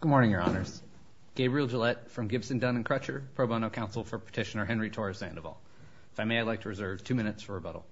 Good morning, Your Honors. Gabriel Gillette from Gibson, Dunn & Crutcher, pro bono counsel for Petitioner Henry Torres Sandoval. If I may, I'd like to reserve two minutes for rebuttal.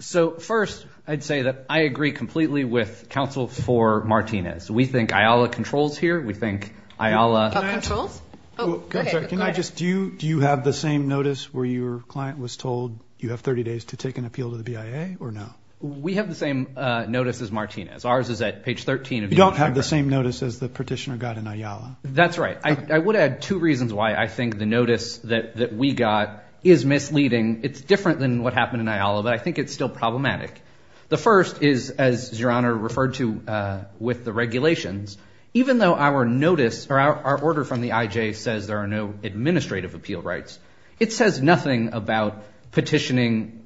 So first, I'd say that I agree completely with counsel for Martinez. We think IALA controls here. We think IALA controls. Oh, go ahead. Can I just, do you have the same notice where your client was told you have 30 days to take an appeal to the BIA, or no? We have the same notice as Martinez. Ours is at page 13 of the initial report. You don't have the same notice as the petitioner got in IALA. That's right. I would add two reasons why I think the notice that we got is misleading. It's different than what happened in IALA, but I think it's still problematic. The first is, as Your Honor referred to with the regulations, even though our order from the IJ says there are no administrative appeal rights, it says nothing about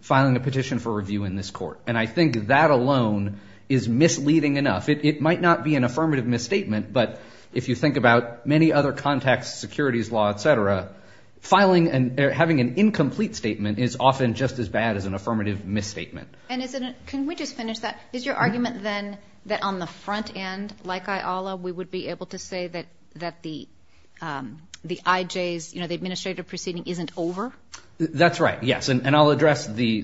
filing a petition for review in this court. And I think that alone is misleading enough. It might not be an affirmative misstatement, but if you think about many other contexts, securities law, et cetera, filing and having an incomplete statement is often just as bad as an affirmative misstatement. And can we just finish that? Is your argument then that on the front end, like IALA, we would be able to say that the IJ's, the administrative proceeding isn't over? That's right, yes. And I'll address the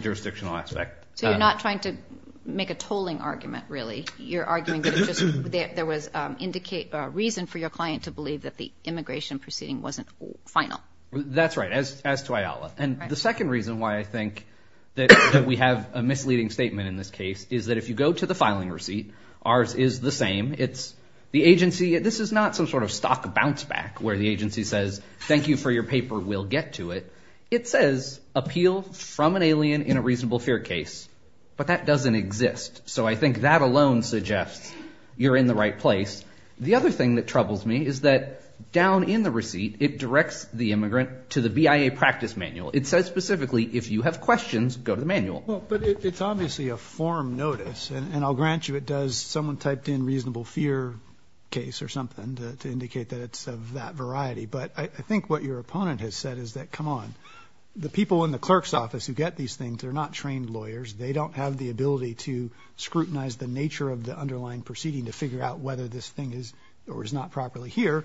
jurisdictional aspect. So you're not trying to make a tolling argument, really? You're arguing that there was a reason for your client to believe that the immigration proceeding wasn't final? That's right, as to IALA. And the second reason why I think that we have a misleading statement in this case is that if you go to the filing receipt, ours is the same. It's the agency. This is not some sort of stock bounce back where the agency says, thank you for your paper. We'll get to it. It says appeal from an alien in a reasonable fear case, but that doesn't exist. So I think that alone suggests you're in the right place. The other thing that troubles me is that down in the receipt, it directs the immigrant to the BIA practice manual. It says specifically, if you have questions, go to the manual. But it's obviously a form notice. And I'll grant you it does. Someone typed in reasonable fear case or something to indicate that it's of that variety. But I think what your opponent has said is that, come on. The people in the clerk's office who get these things, they're not trained lawyers. They don't have the ability to scrutinize the nature of the underlying proceeding to figure out whether this thing is or is not properly here.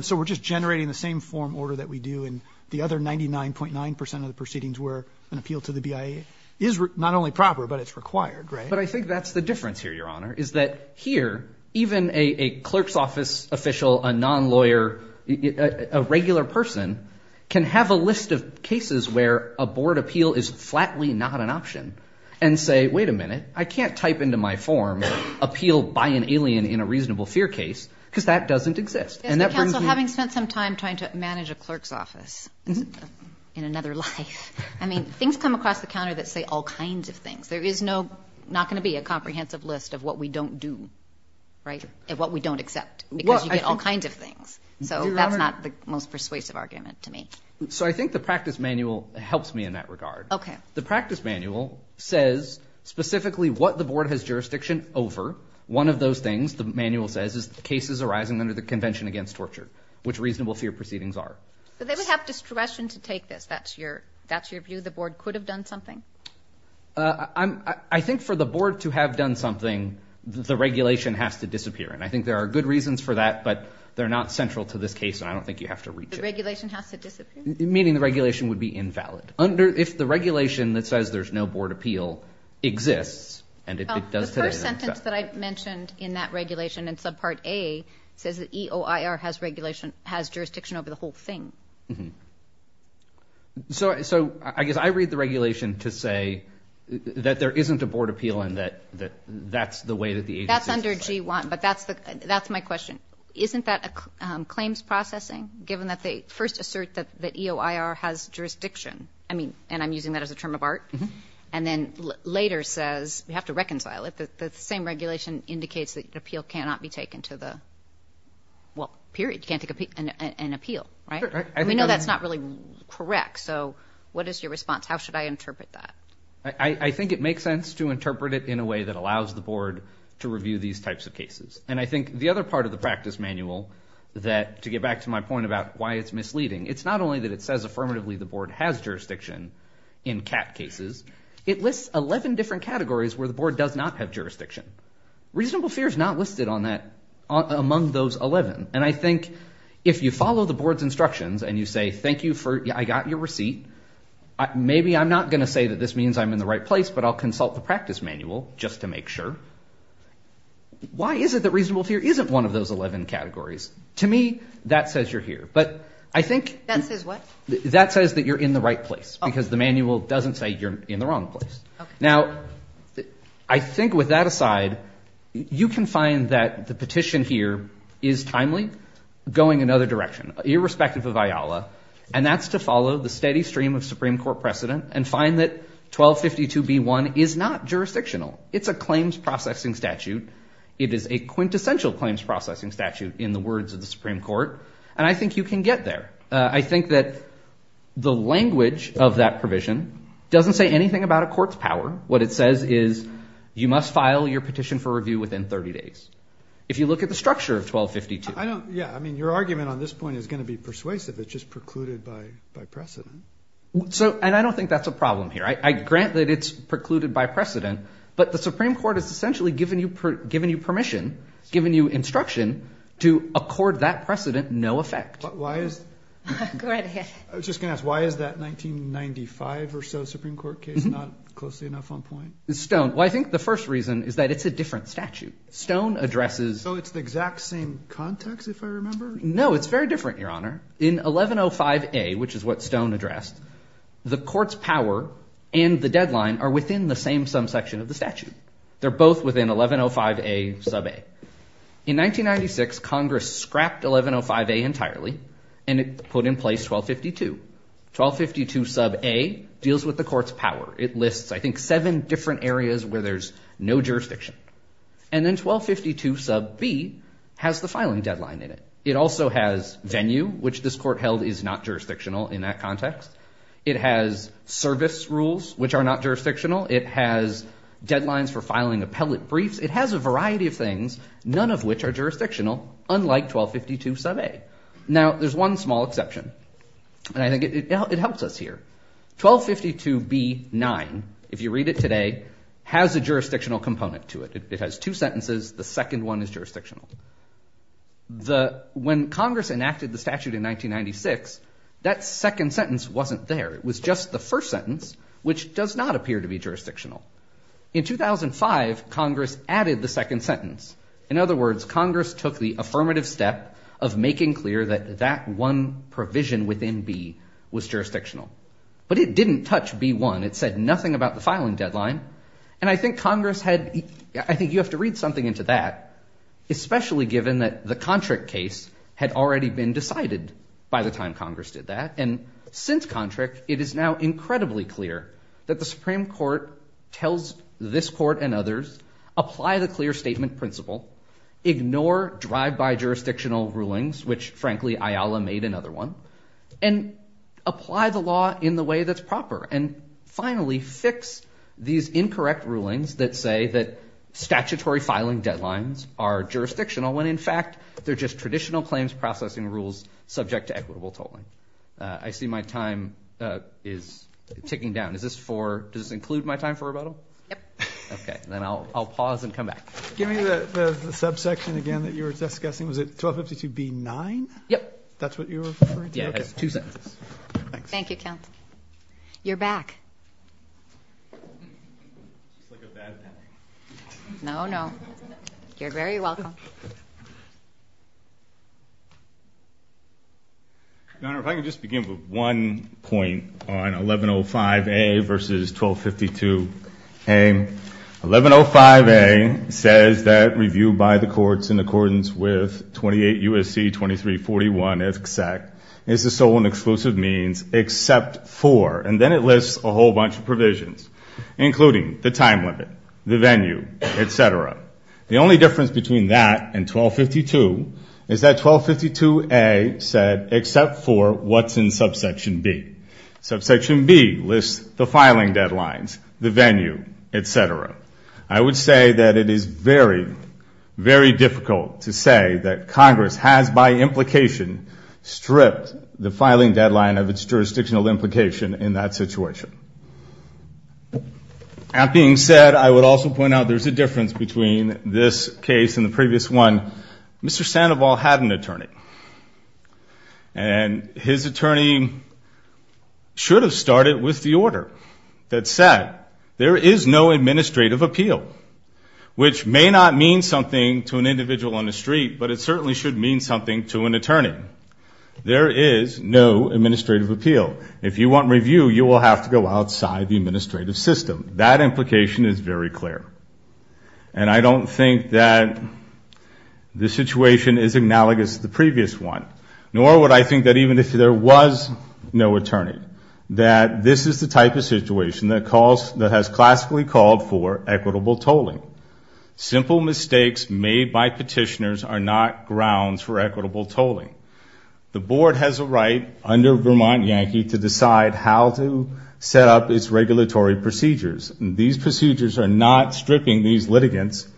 So we're just generating the same form order that we do in the other 99.9% of the proceedings where an appeal to the BIA is not only proper, but it's required, right? But I think that's the difference here, Your Honor, is that here, even a clerk's office official, a non-lawyer, a regular person can have a list of cases where a board appeal is flatly not an option and say, wait a minute. I can't type into my form, appeal by an alien in a reasonable fear case, because that doesn't exist. And that brings me to- Counsel, having spent some time trying to manage a clerk's office in another life, I mean, things come across the counter that say all kinds of things. There is not going to be a comprehensive list of what we don't do, right, of what we don't accept, because you get all kinds of things. So that's not the most persuasive argument to me. So I think the practice manual helps me in that regard. The practice manual says, specifically, what the board has jurisdiction over. One of those things, the manual says, is the cases arising under the Convention Against Torture, which reasonable fear proceedings are. But they would have discretion to take this. That's your view? The board could have done something? I think for the board to have done something, the regulation has to disappear. And I think there are good reasons for that, but they're not central to this case, and I don't think you have to reach it. The regulation has to disappear? Meaning the regulation would be invalid. If the regulation that says there's no board appeal exists, and it does today, then it's valid. The first sentence that I mentioned in that regulation, in subpart A, says that EOIR has jurisdiction over the whole thing. So I guess I read the regulation to say that there isn't a board appeal, and that that's the way that the agency is. That's under G1, but that's my question. Isn't that claims processing, given that they first assert that the EOIR has jurisdiction? I mean, and I'm using that as a term of art. And then later says, we have to reconcile it. The same regulation indicates that the appeal cannot be taken to the, well, period, you can't take an appeal, right? We know that's not really correct, so what is your response? How should I interpret that? I think it makes sense to interpret it in a way that allows the board to review these types of cases. And I think the other part of the practice manual, that to get back to my point about why it's misleading, it's not only that it says affirmatively the board has jurisdiction in CAT cases, it lists 11 different categories where the board does not have jurisdiction. Reasonable fear is not listed on that, among those 11. And I think if you follow the board's instructions and you say, thank you for, I got your receipt. Maybe I'm not going to say that this means I'm in the right place, but I'll consult the practice manual just to make sure. Why is it that reasonable fear isn't one of those 11 categories? To me, that says you're here. But I think that says that you're in the right place, because the manual doesn't say you're in the wrong place. Now, I think with that aside, you can find that the petition here is timely, going another direction, irrespective of IALA. And that's to follow the steady stream of Supreme Court precedent and find that 1252b1 is not jurisdictional. It's a claims processing statute. It is a quintessential claims processing statute in the words of the Supreme Court. And I think you can get there. I think that the language of that provision doesn't say anything about a court's power. What it says is, you must file your petition for review within 30 days. If you look at the structure of 1252. Yeah, I mean, your argument on this point is going to be persuasive. It's just precluded by precedent. And I don't think that's a problem here. I grant that it's precluded by precedent. But the Supreme Court has essentially given you permission, given you instruction, to accord that precedent no effect. Why is that? Go right ahead. I was just going to ask, why is that 1995 or so Supreme Court case not closely enough on point? Stone. Well, I think the first reason is that it's a different statute. Stone addresses. So it's the exact same context, if I remember? No, it's very different, Your Honor. In 1105a, which is what Stone addressed, the court's power and the deadline are within the same sum section of the statute. They're both within 1105a sub a. In 1996, Congress scrapped 1105a entirely, and it put in place 1252. 1252 sub a deals with the court's power. It lists, I think, seven different areas where there's no jurisdiction. And then 1252 sub b has the filing deadline in it. It also has venue, which this court held is not jurisdictional in that context. It has service rules, which are not jurisdictional. It has deadlines for filing appellate briefs. It has a variety of things, none of which are jurisdictional, unlike 1252 sub a. Now, there's one small exception, and I think it helps us here. 1252b-9, if you read it today, has a jurisdictional component to it. It has two sentences. The second one is jurisdictional. When Congress enacted the statute in 1996, that second sentence wasn't there. It was just the first sentence, which does not appear to be jurisdictional. In 2005, Congress added the second sentence. In other words, Congress took the affirmative step of making clear that that one provision within b was jurisdictional. But it didn't touch b1. It said nothing about the filing deadline. And I think Congress had, I think you have to read something into that, especially given that the contract case had already been decided by the time Congress did that. And since contract, it is now incredibly clear that the Supreme Court tells this court and others, apply the clear statement principle, ignore drive-by jurisdictional rulings, which frankly, IALA made another one, and apply the law in the way that's proper. And finally, fix these incorrect rulings that say that statutory filing deadlines are jurisdictional, when in fact, they're just traditional claims processing rules subject to equitable tolling. I see my time is ticking down. Is this for, does this include my time for rebuttal? Yep. OK. Then I'll pause and come back. Give me the subsection again that you were just guessing. Was it 1252b9? Yep. That's what you were referring to? Yeah, it's two sentences. Thank you, counsel. You're back. It's like a bad panic. No, no. You're very welcome. Your Honor, if I could just begin with one point on 1105a versus 1252a. 1105a says that review by the courts in accordance with 28 U.S.C. 2341, et cetera, is the sole and exclusive means except for, and then it lists a whole bunch of provisions, including the time limit, the venue, et cetera. The only difference between that and 1252 is that 1252a said except for what's in subsection b. Subsection b lists the filing deadlines, the venue, et cetera. I would say that it is very, very difficult to say that Congress has, by implication, stripped the filing deadline of its jurisdictional implication in that situation. That being said, I would also point out there's a difference between this case and the previous one. Mr. Sandoval had an attorney. And his attorney should have started with the order that said there is no administrative appeal, which may not mean something to an individual on the street, but it certainly should mean something to an attorney. There is no administrative appeal. If you want review, you will have to go outside the administrative system. That implication is very clear. And I don't think that this situation is analogous to the previous one. Nor would I think that even if there was no attorney, that this is the type of situation that has classically called for equitable tolling. Simple mistakes made by petitioners are not grounds for equitable tolling. The board has a right under Vermont Yankee to decide how to set up its regulatory procedures. And these procedures are not stripping these litigants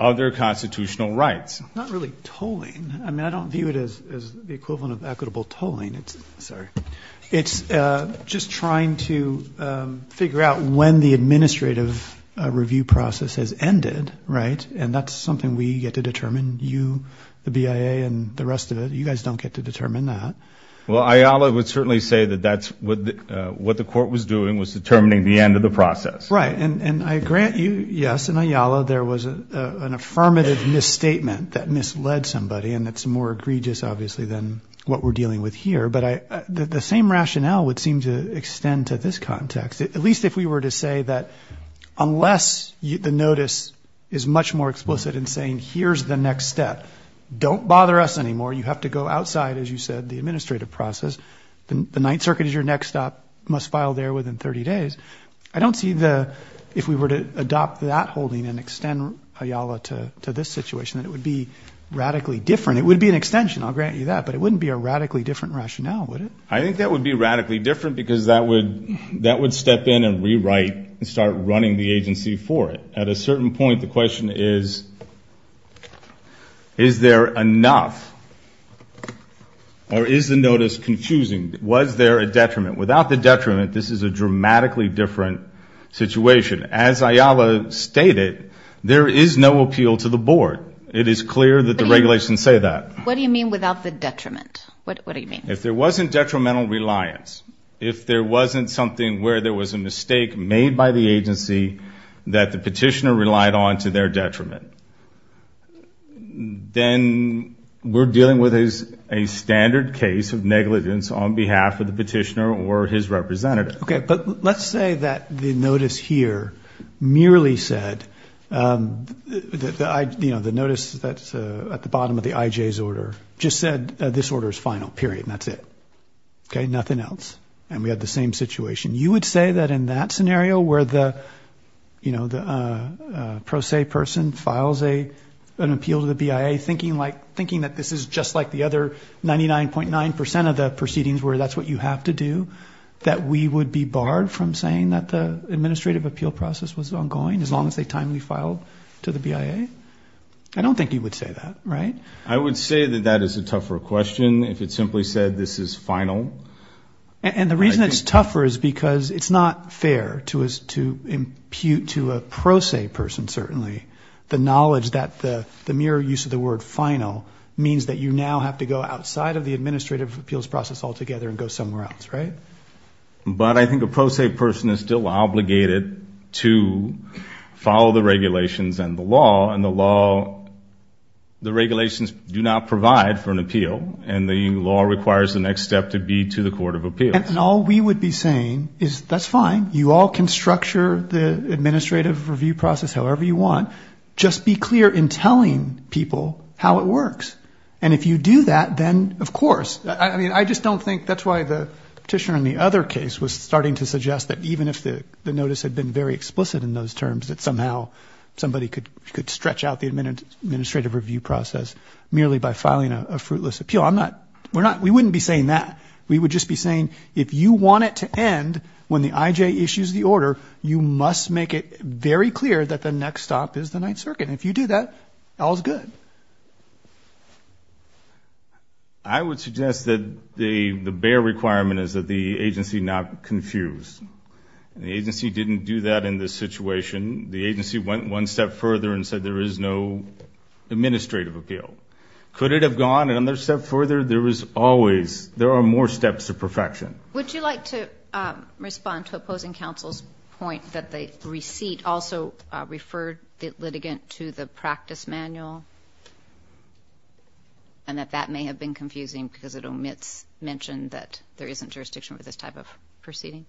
of their constitutional rights. Not really tolling. I mean, I don't view it as the equivalent of equitable tolling. It's just trying to figure out when the administrative review process has ended, right? And that's something we get to determine, you, the BIA, and the rest of it. You guys don't get to determine that. Well, Ayala would certainly say that what the court was doing was determining the end of the process. Right. And I grant you, yes, in Ayala, there was an affirmative misstatement that misled somebody. And that's more egregious, obviously, than what we're dealing with here. But the same rationale would seem to extend to this context. At least if we were to say that unless the notice is much more explicit in saying, here's the next step, don't bother us anymore. You have to go outside, as you said, the administrative process. The Ninth Circuit is your next stop. Must file there within 30 days. I don't see the, if we were to adopt that holding and extend Ayala to this situation, that it would be radically different. It would be an extension, I'll grant you that. But it wouldn't be a radically different rationale, would it? I think that would be radically different because that would step in and rewrite and start running the agency for it. At a certain point, the question is, is there enough? Or is the notice confusing? Was there a detriment? Without the detriment, this is a dramatically different situation. As Ayala stated, there is no appeal to the board. It is clear that the regulations say that. What do you mean without the detriment? What do you mean? If there wasn't detrimental reliance, if there wasn't something where there was a mistake made by the agency that the petitioner relied on to their detriment, then we're dealing with a standard case of negligence on behalf of the petitioner or his representative. OK, but let's say that the notice here merely said, the notice that's at the bottom of the IJ's order just said, this order is final, period. And that's it. Nothing else. And we had the same situation. You would say that in that scenario, where the pro se person files an appeal to the BIA, thinking that this is just like the other 99.9% of the proceedings where that's what you have to do, that we would be barred from saying that the administrative appeal process was ongoing, as long as they timely filed to the BIA? I don't think you would say that, right? I would say that that is a tougher question, if it simply said, this is final. And the reason it's tougher is because it's not fair to impute to a pro se person, certainly, the knowledge that the mere use of the word final means that you now have to go outside of the administrative appeals process altogether and go somewhere else, right? But I think a pro se person is still obligated to follow the regulations and the law. And the law, the regulations do not provide for an appeal. And the law requires the next step to be to the Court of Appeals. And all we would be saying is, that's fine. You all can structure the administrative review process however you want. Just be clear in telling people how it works. And if you do that, then, of course. I mean, I just don't think that's why the petitioner in the other case was starting to suggest that even if the notice had been very explicit in those terms, that somehow somebody could stretch out the administrative review process merely by filing a fruitless appeal. We wouldn't be saying that. We would just be saying, if you want it to end when the IJ issues the order, you must make it very clear that the next stop is the Ninth Circuit. And if you do that, all's good. I would suggest that the bare requirement is that the agency not confuse. The agency didn't do that in this situation. The agency went one step further and said, there is no administrative appeal. Could it have gone another step further? There is always, there are more steps to perfection. Would you like to respond to opposing counsel's point that the receipt also referred the litigant to the practice manual and that that may have been confusing because it omits mention that there isn't jurisdiction for this type of proceeding?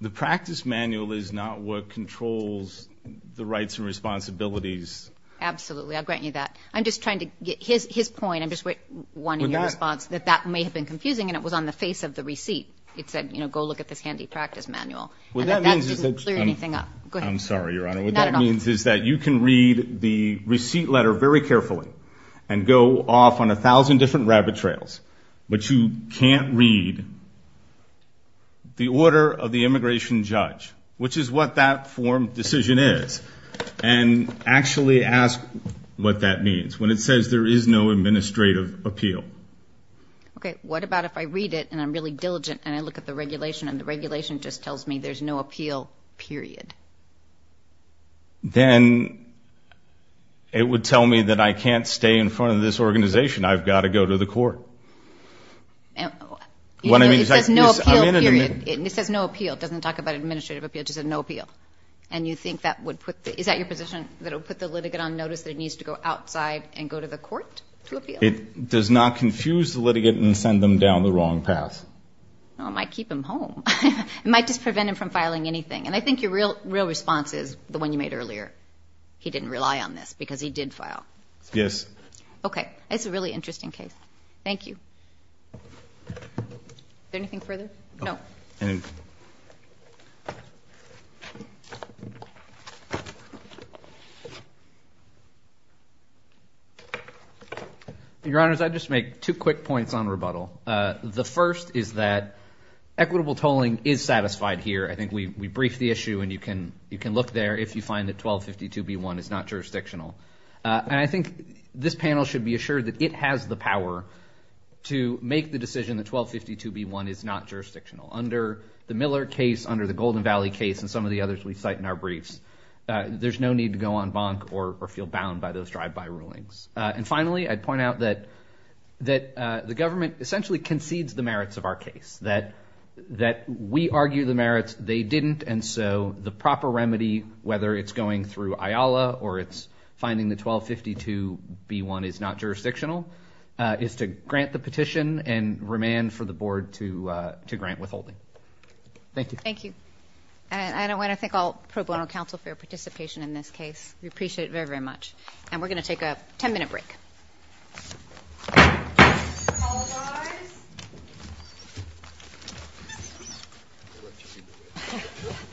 The practice manual is not what controls the rights and responsibilities. Absolutely. I'll grant you that. I'm just trying to get his point. I'm just wanting your response that that may have been confusing. And it was on the face of the receipt. It said, go look at this handy practice manual. What that means is that you can read the receipt letter very carefully and go off on 1,000 different rabbit trails. But you can't read the order of the immigration judge, which is what that form decision is. And actually ask what that means when it says there is no administrative appeal. OK, what about if I read it and I'm really diligent and I look at the regulation and the regulation just tells me there's no appeal, period? Then it would tell me that I can't stay in front of this organization. I've got to go to the court. It says no appeal, period. It says no appeal. It doesn't talk about administrative appeal. It just said no appeal. And you think that would put the, is that your position, that it would put the litigant on notice that it needs to go outside and go to the court to appeal? It does not confuse the litigant and send them down the wrong path. Well, it might keep him home. It might just prevent him from filing anything. And I think your real response is the one you made earlier. He didn't rely on this because he did file. Yes. OK, it's a really interesting case. Thank you. Is there anything further? No. Anything. Your Honors, I'd just make two quick points on rebuttal. The first is that equitable tolling is satisfied here. I think we briefed the issue. And you can look there if you find that 1252B1 is not jurisdictional. And I think this panel should be assured that it has the power to make the decision that 1252B1 is not It's not jurisdictional. It's not jurisdictional. The Miller case under the Golden Valley case and some of the others we cite in our briefs, there's no need to go on bonk or feel bound by those drive-by rulings. And finally, I'd point out that the government essentially concedes the merits of our case, that we argue the merits. They didn't. And so the proper remedy, whether it's going through IALA or it's finding the 1252B1 is not jurisdictional, is to grant the petition and remand for the board to grant withholding. Thank you. Thank you. And I want to thank all pro bono counsel for your participation in this case. We appreciate it very, very much. And we're going to take a 10-minute break. Apologize.